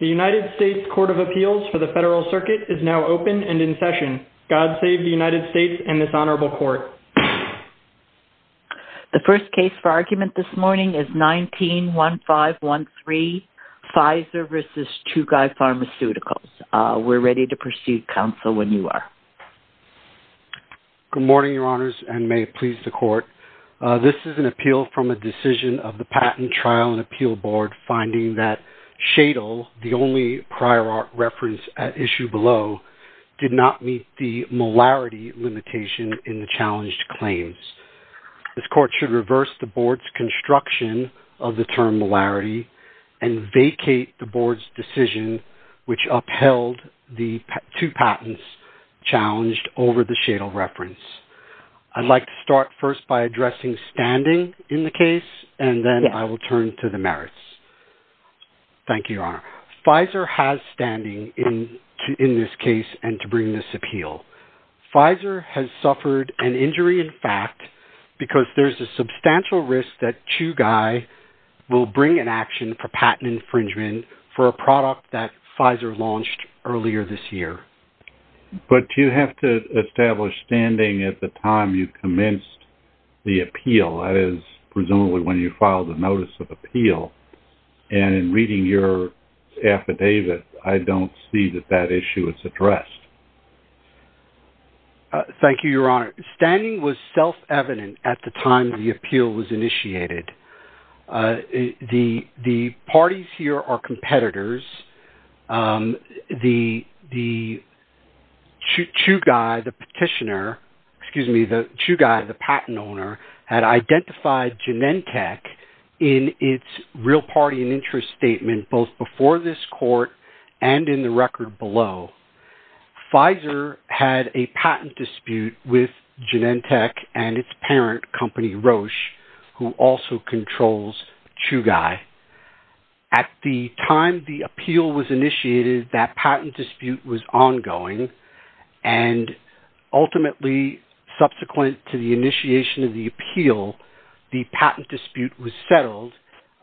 The United States Court of Appeals for the Federal Circuit is now open and in session. God save the United States and this Honorable Court. The first case for argument this morning is 19-1513, Pfizer v. Chugai Pharmaceuticals. We're ready to proceed, Counsel, when you are. Good morning, Your Honors, and may it please the Court. This is an appeal from a decision of the Patent Trial and Appeal Board finding that Shadle, the only prior reference at issue below, did not meet the molarity limitation in the challenged claims. This Court should reverse the Board's construction of the term molarity and vacate the Board's decision which upheld the two patents challenged over the Shadle reference. I'd like to start first by addressing standing in the case and then I will turn to the merits. Thank you, Your Honor. Pfizer has standing in this case and to bring this appeal. Pfizer has suffered an injury in fact because there's a substantial risk that Chugai will bring an action for patent infringement for a product that Pfizer launched earlier this year. But you have to establish standing at the time you commenced the appeal. That is presumably when you filed a notice of appeal. And in reading your affidavit, I don't see that that issue is addressed. Thank you, Your Honor. Standing was self-evident at the time the appeal was initiated. The parties here are competitors. The Chugai, the petitioner, excuse me, the Chugai, the patent owner, had identified Genentech in its real party and interest statement both before this court and in the record below. Pfizer had a patent dispute with Genentech and its parent company, Roche, who also controls Chugai. At the time the appeal was initiated, that patent dispute was ongoing. And ultimately, subsequent to the initiation of the appeal, the patent dispute was settled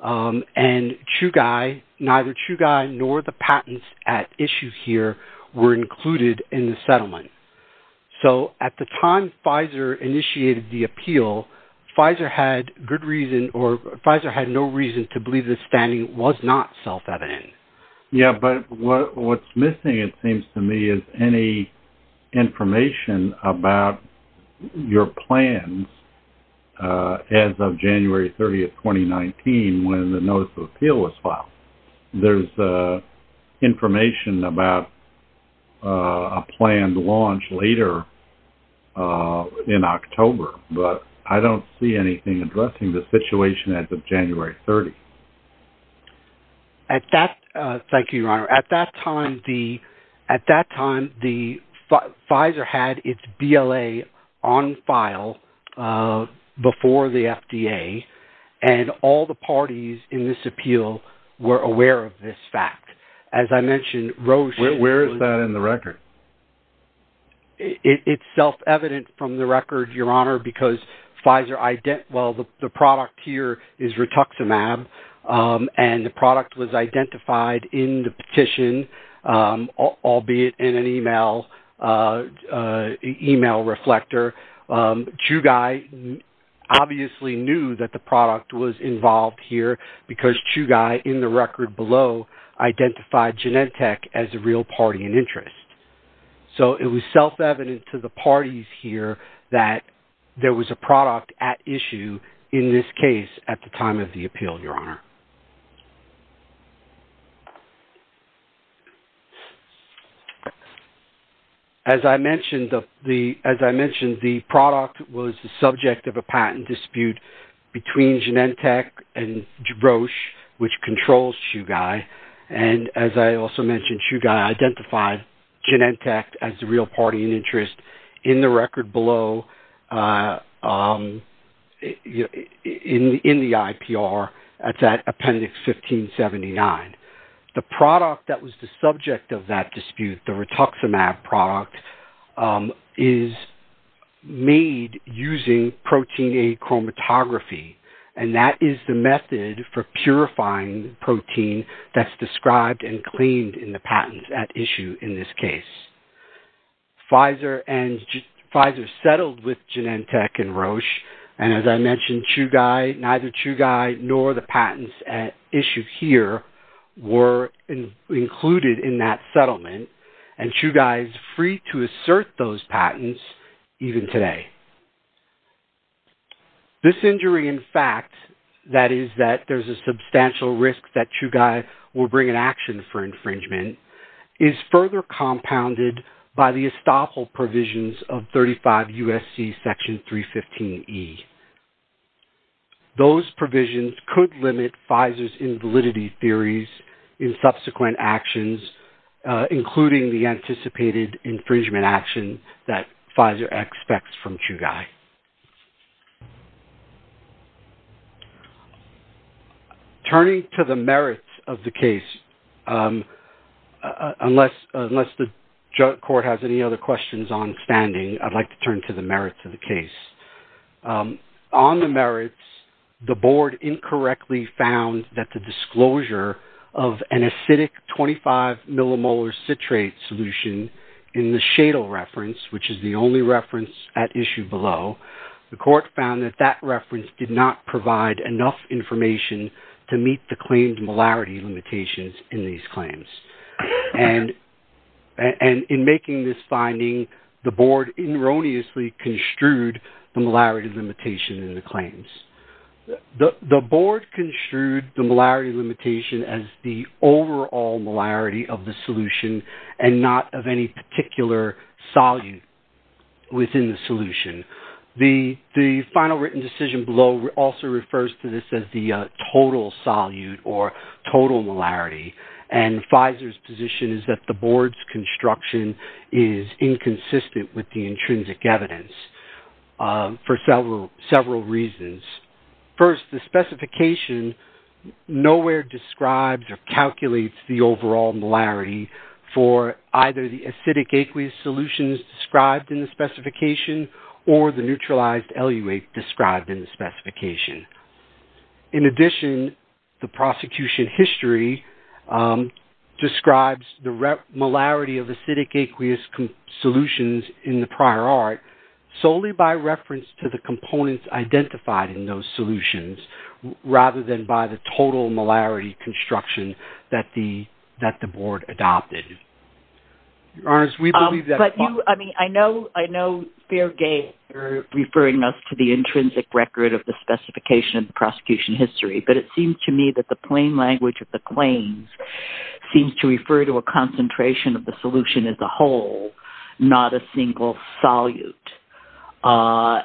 and Chugai, neither Chugai nor the patents at issue here were included in the settlement. So at the time Pfizer initiated the appeal, Pfizer had no reason to believe that standing was not self-evident. Yeah, but what's missing, it seems to me, is any information about your plans as of January 30, 2019, when the notice of appeal was filed. There's information about a planned launch later in October, but I don't see anything addressing the situation as of January 30. Thank you, Your Honor. At that time, Pfizer had its BLA on file before the FDA, and all the parties in this appeal were aware of this fact. As I mentioned, Roche… Where is that in the record? It's self-evident from the record, Your Honor, because the product here is rituximab, and the product was identified in the petition, albeit in an email reflector. Chugai obviously knew that the product was involved here because Chugai, in the record below, identified Genentech as a real party in interest. So it was self-evident to the parties here that there was a product at issue in this case at the time of the appeal, Your Honor. As I mentioned, the product was the subject of a patent dispute between Genentech and Roche, which controls Chugai. As I also mentioned, Chugai identified Genentech as the real party in interest in the record below in the IPR at that appendix 1579. The product that was the subject of that dispute, the rituximab product, is made using protein-A chromatography, and that is the method for purifying protein that's described and cleaned in the patents at issue in this case. Pfizer settled with Genentech and Roche, and as I mentioned, neither Chugai nor the patents at issue here were included in that settlement, and Chugai is free to assert those patents even today. This injury, in fact, that is that there's a substantial risk that Chugai will bring an action for infringement, is further compounded by the estoppel provisions of 35 U.S.C. Section 315E. Those provisions could limit Pfizer's invalidity theories in subsequent actions, including the anticipated infringement action that Pfizer expects from Chugai. Turning to the merits of the case, unless the court has any other questions on standing, I'd like to turn to the merits of the case. On the merits, the board incorrectly found that the disclosure of an acidic 25-millimolar citrate solution in the Shadle reference, which is the only reference at issue below, the court found that that reference did not provide enough information to meet the claimed molarity limitations in these claims. And in making this finding, the board erroneously construed the molarity limitation in the claims. The board construed the molarity limitation as the overall molarity of the solution and not of any particular solute within the solution. The final written decision below also refers to this as the total solute or total molarity, and Pfizer's position is that the board's construction is inconsistent with the intrinsic evidence for several reasons. First, the specification nowhere describes or calculates the overall molarity for either the acidic aqueous solutions described in the specification or the neutralized eluate described in the specification. In addition, the prosecution history describes the molarity of acidic aqueous solutions in the prior art solely by reference to the components identified in those solutions, rather than by the total molarity construction that the board adopted. I know Fairgate is referring us to the intrinsic record of the specification of the prosecution history, but it seems to me that the plain language of the claims seems to refer to a concentration of the solution as a whole, not a single solute,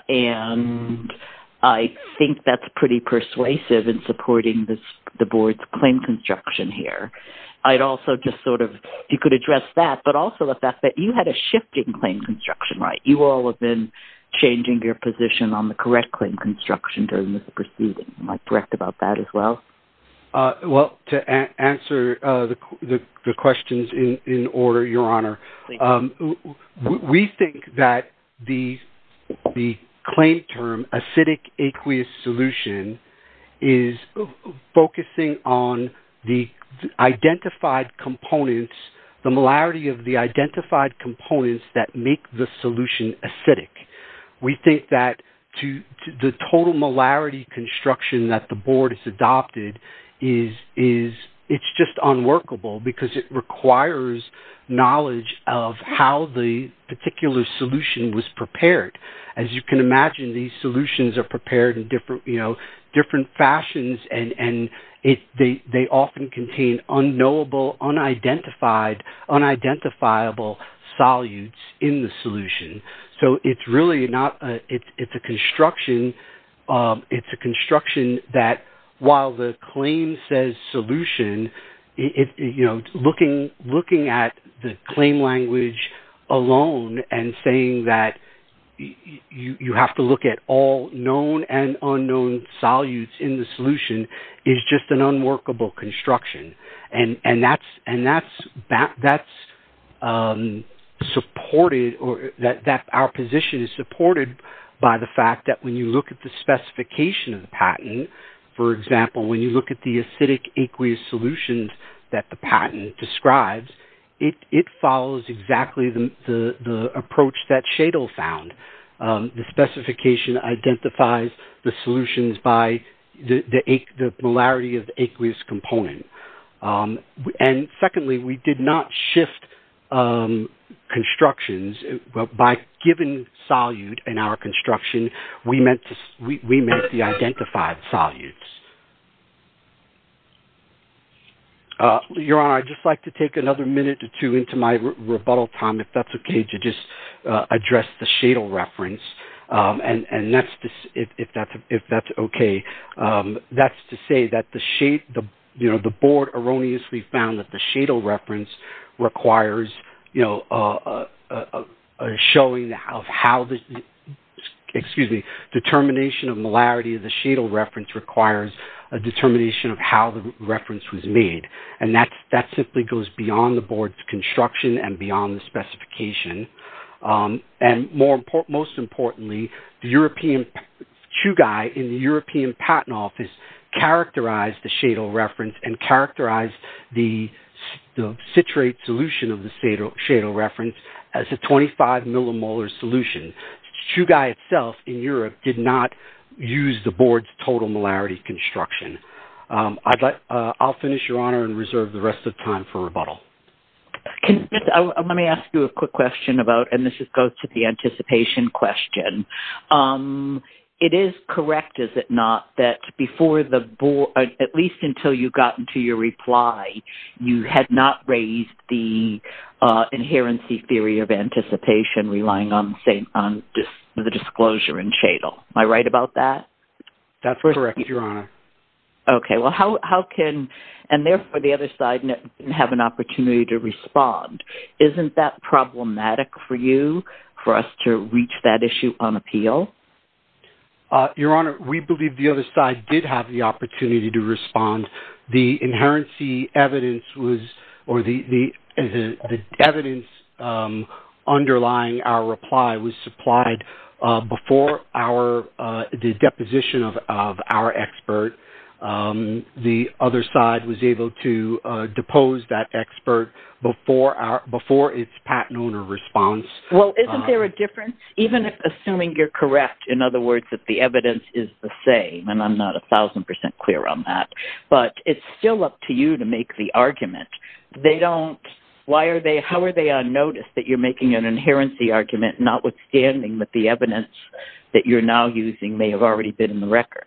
and I think that's pretty persuasive in supporting the board's claim construction here. If you could address that, but also the fact that you had a shifting claim construction, right? You all have been changing your position on the correct claim construction during this proceeding. Am I correct about that as well? Well, to answer the questions in order, Your Honor, we think that the claim term, acidic aqueous solution, is focusing on the identified components, the molarity of the identified components that make the solution acidic. We think that the total molarity construction that the board has adopted is just unworkable because it requires knowledge of how the particular solution was prepared. As you can imagine, these solutions are prepared in different fashions, and they often contain unknowable, unidentified, unidentifiable solutes in the solution. It's a construction that, while the claim says solution, looking at the claim language alone and saying that you have to look at all known and unknown solutes in the solution is just an unworkable construction. Our position is supported by the fact that when you look at the specification of the patent, for example, when you look at the acidic aqueous solutions that the patent describes, it follows exactly the approach that Shadle found. The specification identifies the solutions by the molarity of aqueous component. Secondly, we did not shift constructions. By giving solute in our construction, we meant the identified solutes. Your Honor, I'd just like to take another minute or two into my rebuttal time, if that's okay, to just address the Shadle reference, if that's okay. That's to say that the Board erroneously found that the Shadle reference requires a determination of molarity. The Shadle reference requires a determination of how the reference was made, and that simply goes beyond the Board's construction and beyond the specification. Most importantly, Chugai in the European Patent Office characterized the Shadle reference and characterized the citrate solution of the Shadle reference as a 25 millimolar solution. Chugai itself in Europe did not use the Board's total molarity construction. I'll finish, Your Honor, and reserve the rest of the time for rebuttal. Let me ask you a quick question, and this goes to the anticipation question. It is correct, is it not, that at least until you got to your reply, you had not raised the inherency theory of anticipation relying on the disclosure in Shadle. Am I right about that? That's correct, Your Honor. Okay, well how can, and therefore the other side have an opportunity to respond. Isn't that problematic for you, for us to reach that issue on appeal? Your Honor, we believe the other side did have the opportunity to respond. The inherency evidence was, or the evidence underlying our reply was supplied before the deposition of our expert. The other side was able to depose that expert before its patent owner response. Well, isn't there a difference? Even assuming you're correct, in other words, that the evidence is the same, and I'm not 1,000% clear on that, but it's still up to you to make the argument. They don't, why are they, how are they unnoticed that you're making an inherency argument notwithstanding that the evidence that you're now using may have already been in the record?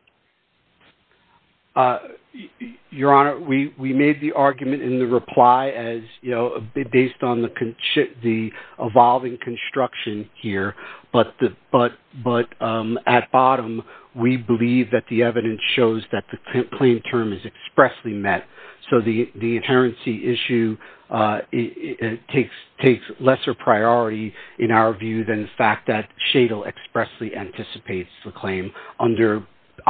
Your Honor, we made the argument in the reply as, you know, based on the evolving construction here, but at bottom, we believe that the evidence shows that the claim term is expressly met. So the inherency issue takes lesser priority in our view than the fact that Shadle expressly anticipates the claim under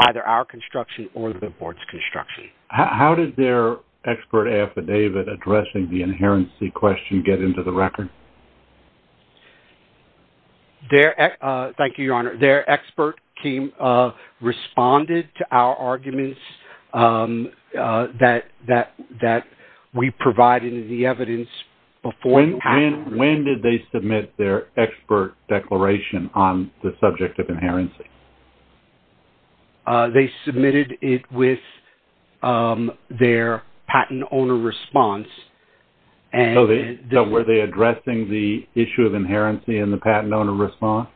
either our construction or the Board's construction. How did their expert affidavit addressing the inherency question get into the record? Thank you, Your Honor. Their expert responded to our arguments that we provided in the evidence before the patent. When did they submit their expert declaration on the subject of inherency? They submitted it with their patent owner response. So were they addressing the issue of inherency in the patent owner response?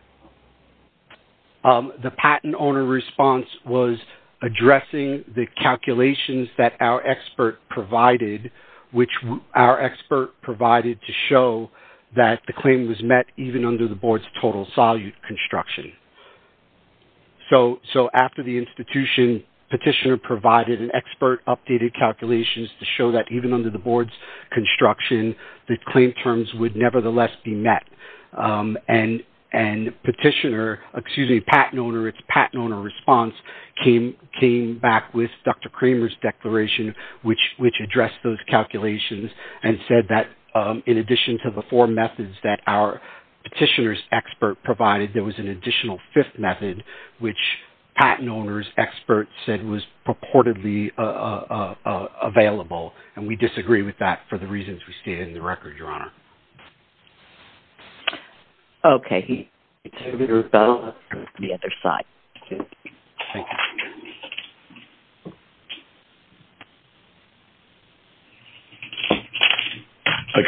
The patent owner response was addressing the calculations that our expert provided, which our expert provided to show that the claim was met even under the Board's total solute construction. So after the institution, Petitioner provided an expert updated calculations to show that even under the Board's construction, the claim terms would nevertheless be met. And Petitioner, excuse me, patent owner, its patent owner response came back with Dr. Kramer's declaration, which addressed those calculations and said that in addition to the four methods that our Petitioner's expert provided, there was an additional fifth method, which patent owner's expert said was purportedly available. And we disagree with that for the reasons we stated in the record, Your Honor. Okay. Good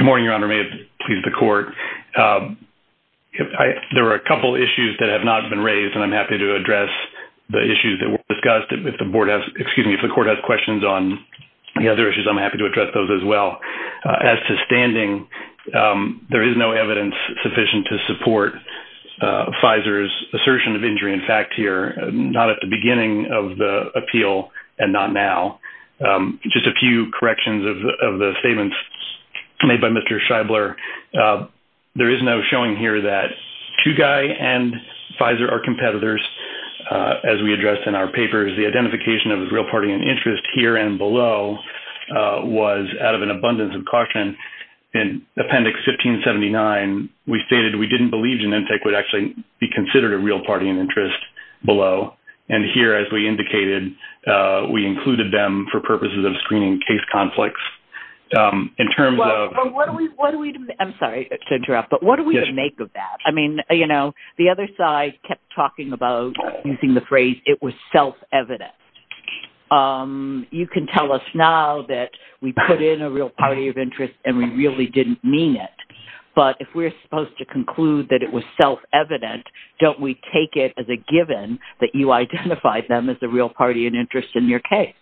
morning, Your Honor. May it please the Court. There are a couple of issues that have not been raised, and I'm happy to address the issues that were discussed. If the Court has questions on the other issues, I'm happy to address those as well. As to standing, there is no evidence sufficient to support Pfizer's assertion of injury in fact here, not at the beginning of the appeal and not now. Just a few corrections of the statements made by Mr. Scheibler. There is no showing here that Chugai and Pfizer are competitors, as we addressed in our papers. The identification of a real party in interest here and below was out of an abundance of caution. In Appendix 1579, we stated we didn't believe Genentech would actually be considered a real party in interest below. And here, as we indicated, we included them for purposes of screening case conflicts. In terms of – Well, what do we – I'm sorry to interrupt, but what do we make of that? I mean, you know, the other side kept talking about, using the phrase, it was self-evident. You can tell us now that we put in a real party of interest and we really didn't mean it. But if we're supposed to conclude that it was self-evident, don't we take it as a given that you identified them as a real party in interest in your case?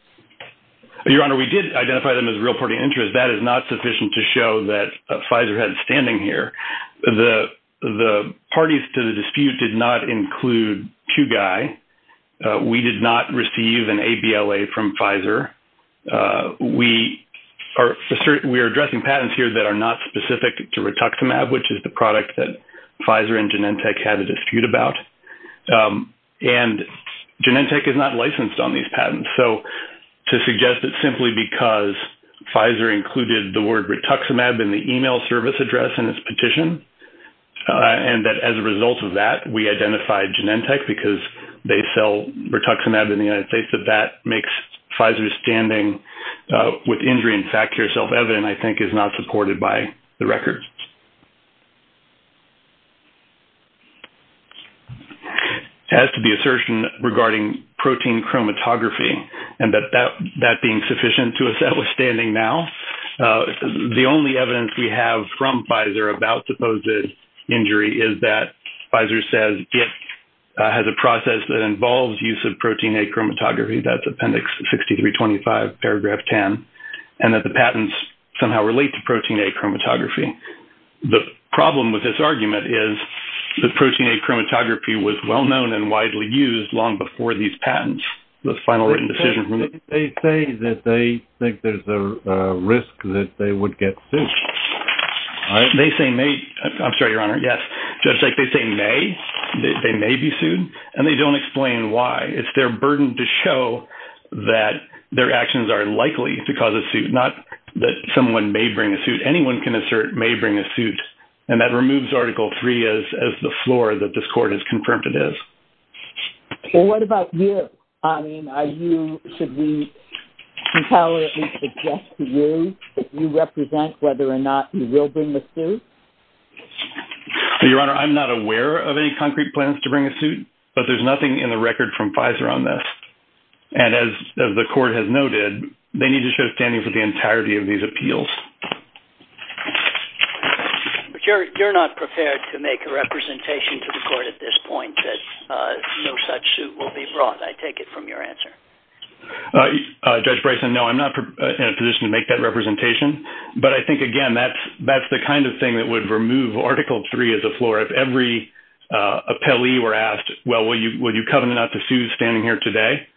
Your Honor, we did identify them as a real party in interest. That is not sufficient to show that Pfizer had standing here. The parties to the dispute did not include Chugai. We did not receive an ABLA from Pfizer. We are addressing patents here that are not specific to rituximab, which is the product that Pfizer and Genentech had a dispute about. And Genentech is not licensed on these patents. So to suggest that simply because Pfizer included the word rituximab in the email service address in its petition and that as a result of that we identified Genentech because they sell rituximab in the United States, that that makes Pfizer's standing with injury in fact care self-evident, I think, is not supported by the record. As to the assertion regarding protein chromatography and that that being sufficient to assess standing now, the only evidence we have from Pfizer about supposed injury is that Pfizer says it has a process that involves use of protein-A chromatography. That's Appendix 6325, paragraph 10, and that the patents somehow relate to protein-A chromatography. The problem with this argument is that protein-A chromatography was well-known and widely used long before these patents. They say that they think there's a risk that they would get sued. They say may. I'm sorry, Your Honor. Yes. Judge, they say may. They may be sued, and they don't explain why. It's their burden to show that their actions are likely to cause a suit, not that someone may bring a suit. Anyone can assert may bring a suit, and that removes Article III as the floor that this court has confirmed it is. Well, what about you? I mean, should we tolerantly suggest to you that you represent whether or not you will bring the suit? Your Honor, I'm not aware of any concrete plans to bring a suit, but there's nothing in the record from Pfizer on this. And as the court has noted, they need to show standing for the entirety of these appeals. But you're not prepared to make a representation to the court at this point that no such suit will be brought. I take it from your answer. Judge Bryson, no, I'm not in a position to make that representation. But I think, again, that's the kind of thing that would remove Article III as the floor. If every appellee were asked, well, will you covenant not to sue standing here today,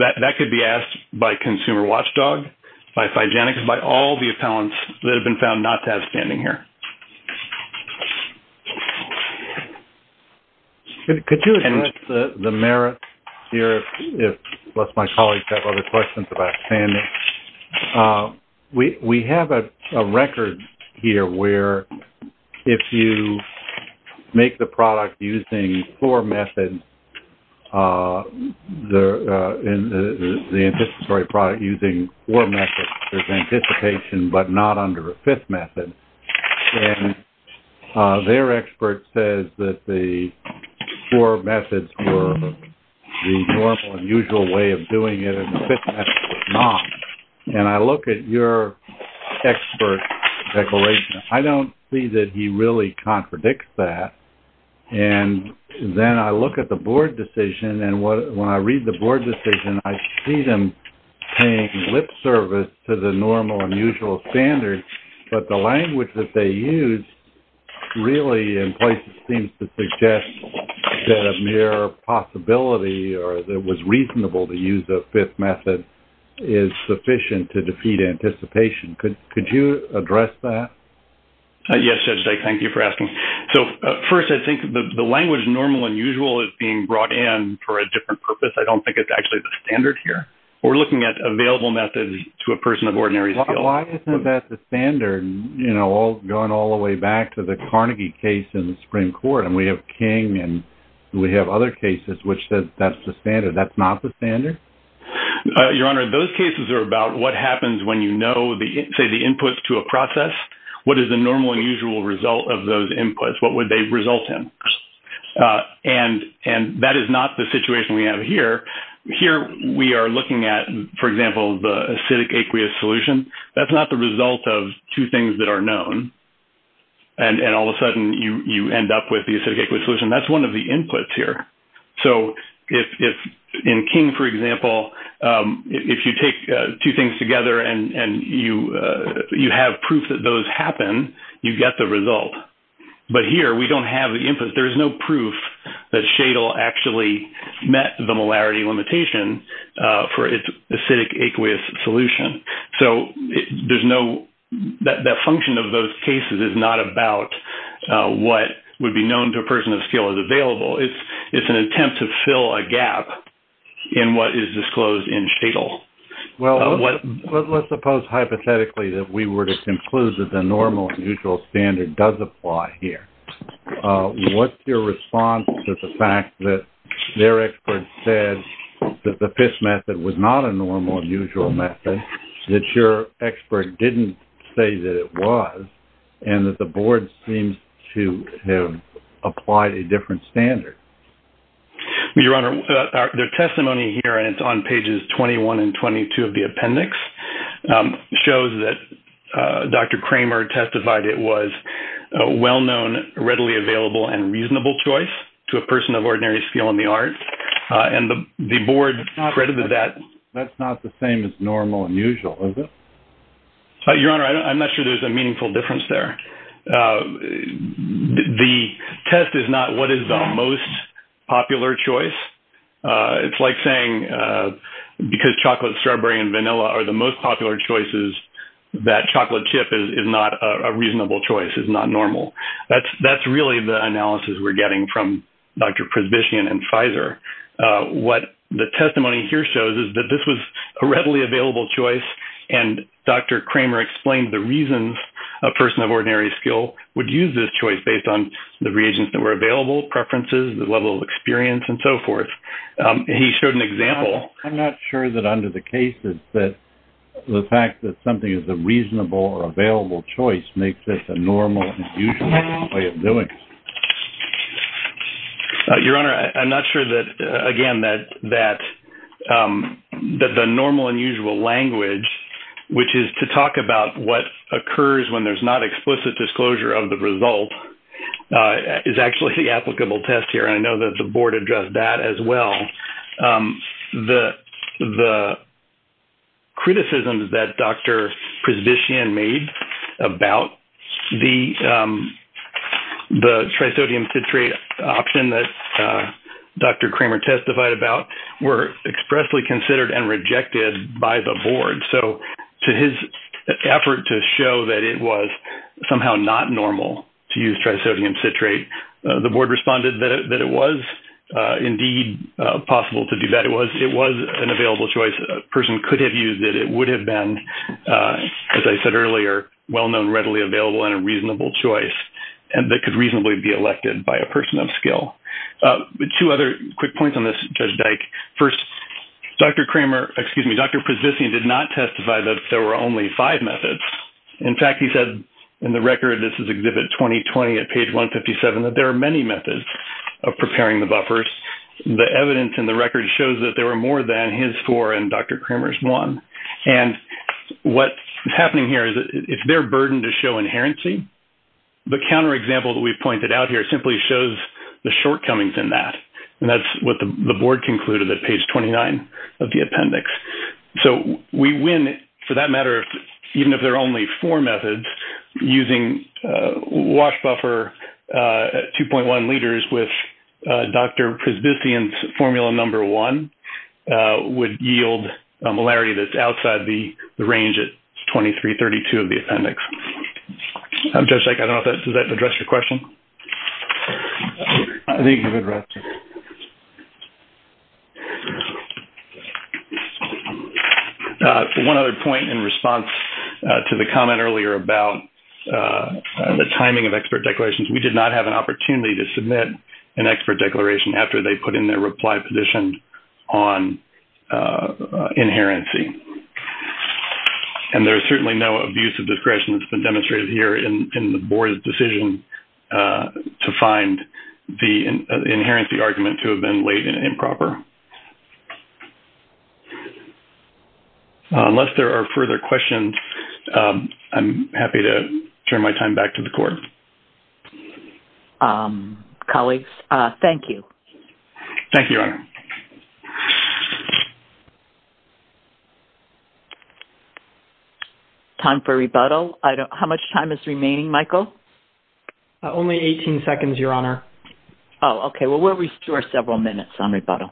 that could be asked by Consumer Watchdog, by Psygenics, and by all the appellants that have been found not to have standing here. Could you address the merits here, lest my colleagues have other questions about standing? We have a record here where if you make the product using four methods, the anticipatory product using four methods, there's anticipation but not under a fifth method. And their expert says that the four methods were the normal and usual way of doing it, and the fifth method was not. And I look at your expert declaration. I don't see that he really contradicts that. And then I look at the board decision, and when I read the board decision, I see them paying lip service to the normal and usual standards. But the language that they use really in places seems to suggest that a mere possibility or that it was reasonable to use a fifth method is sufficient to defeat anticipation. Could you address that? Yes, Judge Dyck. Thank you for asking. So, first, I think the language normal and usual is being brought in for a different purpose. I don't think it's actually the standard here. We're looking at available methods to a person of ordinary skill. Why isn't that the standard, you know, going all the way back to the Carnegie case in the Supreme Court? And we have King, and we have other cases which says that's the standard. That's not the standard? Your Honor, those cases are about what happens when you know, say, the input to a process. What is the normal and usual result of those inputs? What would they result in? And that is not the situation we have here. Here we are looking at, for example, the acidic aqueous solution. That's not the result of two things that are known, and all of a sudden you end up with the acidic aqueous solution. That's one of the inputs here. So, in King, for example, if you take two things together and you have proof that those happen, you get the result. But here, we don't have the input. There is no proof that Shadle actually met the molarity limitation for its acidic aqueous solution. So, there's no – that function of those cases is not about what would be known to a person of skill as available. It's an attempt to fill a gap in what is disclosed in Shadle. Well, let's suppose hypothetically that we were to conclude that the normal and usual standard does apply here. What's your response to the fact that their expert said that the FISH method was not a normal and usual method, that your expert didn't say that it was, and that the Board seems to have applied a different standard? Well, Your Honor, their testimony here, and it's on pages 21 and 22 of the appendix, shows that Dr. Kramer testified it was a well-known, readily available, and reasonable choice to a person of ordinary skill in the arts. And the Board credited that. That's not the same as normal and usual, is it? Your Honor, I'm not sure there's a meaningful difference there. The test is not what is the most popular choice. It's like saying because chocolate, strawberry, and vanilla are the most popular choices, that chocolate chip is not a reasonable choice, is not normal. That's really the analysis we're getting from Dr. Presbyshian and Pfizer. What the testimony here shows is that this was a readily available choice, and Dr. Kramer explained the reasons a person of ordinary skill would use this choice based on the reagents that were available, preferences, the level of experience, and so forth. He showed an example. I'm not sure that under the case that the fact that something is a reasonable or available choice makes it a normal and usual way of doing it. Your Honor, I'm not sure that, again, that the normal and usual language, which is to talk about what occurs when there's not explicit disclosure of the result, is actually the applicable test here. I know that the Board addressed that as well. The criticisms that Dr. Presbyshian made about the trisodium citrate option that Dr. Kramer testified about were expressly considered and rejected by the Board. So to his effort to show that it was somehow not normal to use trisodium citrate, the Board responded that it was indeed possible to do that. It was an available choice. A person could have used it. It would have been, as I said earlier, well-known, readily available, and a reasonable choice that could reasonably be elected by a person of skill. Two other quick points on this, Judge Dyke. First, Dr. Kramer, excuse me, Dr. Presbyshian did not testify that there were only five methods. In fact, he said in the record, this is Exhibit 2020 at page 157, that there are many methods of preparing the buffers. The evidence in the record shows that there were more than his four and Dr. Kramer's one. And what's happening here is it's their burden to show inherency. The counterexample that we've pointed out here simply shows the shortcomings in that, and that's what the Board concluded at page 29 of the appendix. So we win, for that matter, even if there are only four methods, using wash buffer 2.1 liters with Dr. Presbyshian's formula number one would yield a malarity that's outside the range at 2332 of the appendix. Judge Dyke, does that address your question? I think it addresses it. One other point in response to the comment earlier about the timing of expert declarations, we did not have an opportunity to submit an expert declaration after they put in their reply petition on inherency. And there's certainly no abuse of discretion that's been demonstrated here in the Board's decision to find the inherency argument to have been laid in improper. Unless there are further questions, I'm happy to turn my time back to the Court. Colleagues, thank you. Thank you, Your Honor. Time for rebuttal. How much time is remaining, Michael? Only 18 seconds, Your Honor. Oh, okay. Well, we'll restore several minutes on rebuttal.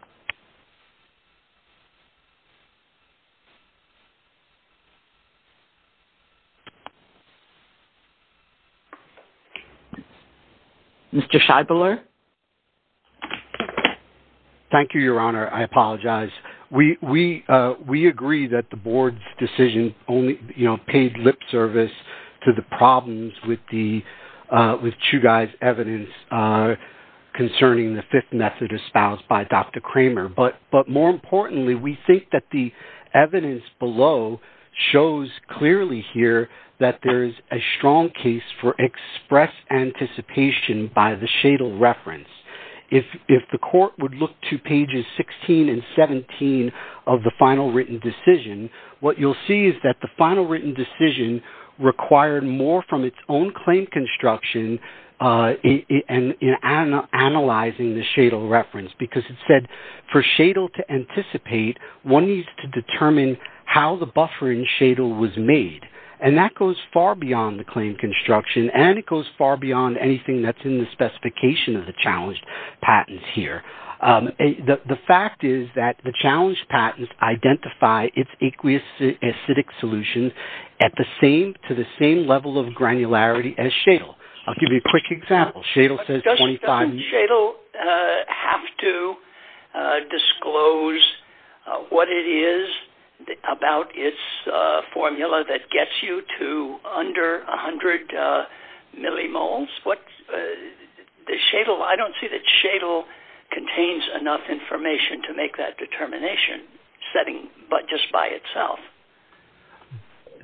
Mr. Scheibler? Thank you, Your Honor. I apologize. We agree that the Board's decision only paid lip service to the problems with Chugai's evidence concerning the fifth method espoused by Dr. Kramer. But more importantly, we think that the evidence below shows clearly here that there is a strong case for express anticipation by the Shadle reference. If the Court would look to pages 16 and 17 of the final written decision, what you'll see is that the final written decision required more from its own claim construction in analyzing the Shadle reference. Because it said, for Shadle to anticipate, one needs to determine how the buffer in Shadle was made. And that goes far beyond the claim construction, and it goes far beyond anything that's in the specification of the challenged patents here. The fact is that the challenged patents identify its aqueous acidic solutions to the same level of granularity as Shadle. I'll give you a quick example. Doesn't Shadle have to disclose what it is about its formula that gets you to under 100 millimoles? I don't see that Shadle contains enough information to make that determination setting just by itself.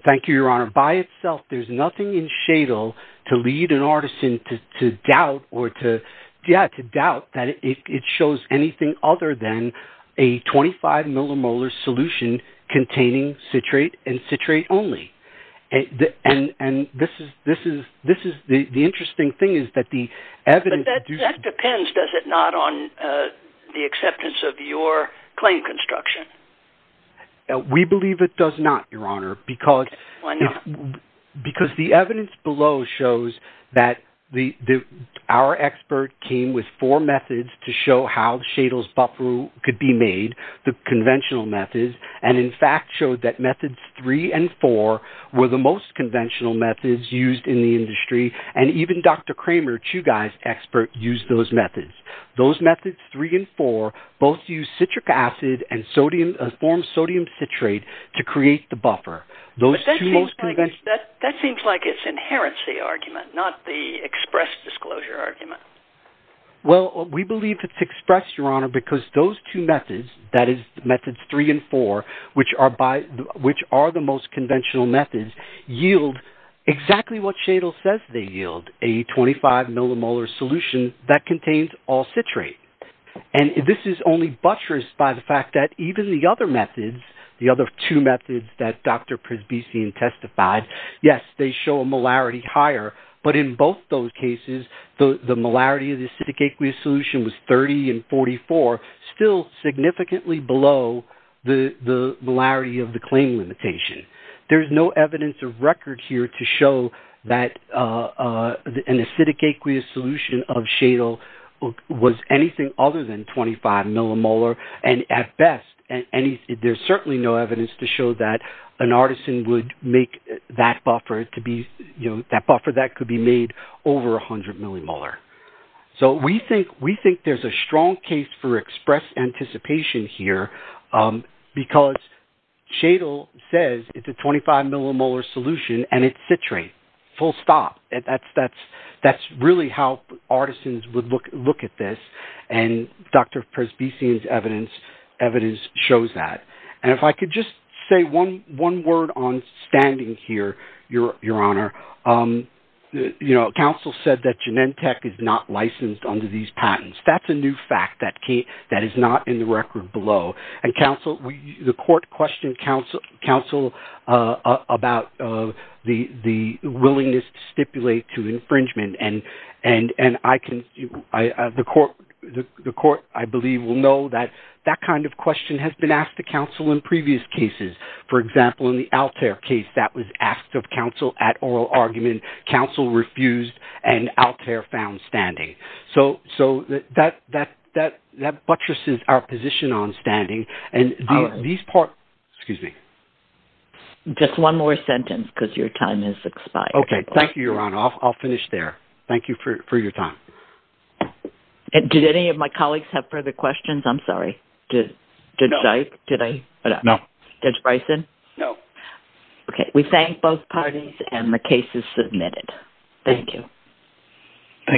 Thank you, Your Honor. By itself, there's nothing in Shadle to lead an artisan to doubt that it shows anything other than a 25 millimolar solution containing citrate and citrate only. And the interesting thing is that the evidence... But that depends, does it not, on the acceptance of your claim construction? We believe it does not, Your Honor, because the evidence below shows that our expert came with four methods to show how Shadle's buffer could be made. The conventional methods, and in fact showed that methods three and four were the most conventional methods used in the industry. And even Dr. Kramer, Chugai's expert, used those methods. Those methods, three and four, both use citric acid and form sodium citrate to create the buffer. But that seems like its inherency argument, not the express disclosure argument. Well, we believe it's expressed, Your Honor, because those two methods, that is methods three and four, which are the most conventional methods, yield exactly what Shadle says they yield, a 25 millimolar solution that contains all citrate. And this is only buttressed by the fact that even the other methods, the other two methods that Dr. Presbysian testified, yes, they show a molarity higher. But in both those cases, the molarity of the acidic aqueous solution was 30 and 44, still significantly below the molarity of the claim limitation. There's no evidence of record here to show that an acidic aqueous solution of Shadle was anything other than 25 millimolar. And at best, there's certainly no evidence to show that an artisan would make that buffer that could be made over 100 millimolar. So we think there's a strong case for express anticipation here because Shadle says it's a 25 millimolar solution and it's citrate, full stop. That's really how artisans would look at this. And Dr. Presbysian's evidence shows that. And if I could just say one word on standing here, Your Honor. You know, counsel said that Genentech is not licensed under these patents. That's a new fact that is not in the record below. And counsel, the court questioned counsel about the willingness to stipulate to infringement. And the court, I believe, will know that that kind of question has been asked to counsel in previous cases. For example, in the Altair case, that was asked of counsel at oral argument. Counsel refused, and Altair found standing. So that buttresses our position on standing. And these parts – excuse me. Just one more sentence because your time has expired. Okay. Thank you, Your Honor. I'll finish there. Thank you for your time. Did any of my colleagues have further questions? I'm sorry. No. Did I? No. Judge Bryson? No. Okay. We thank both parties, and the case is submitted. Thank you.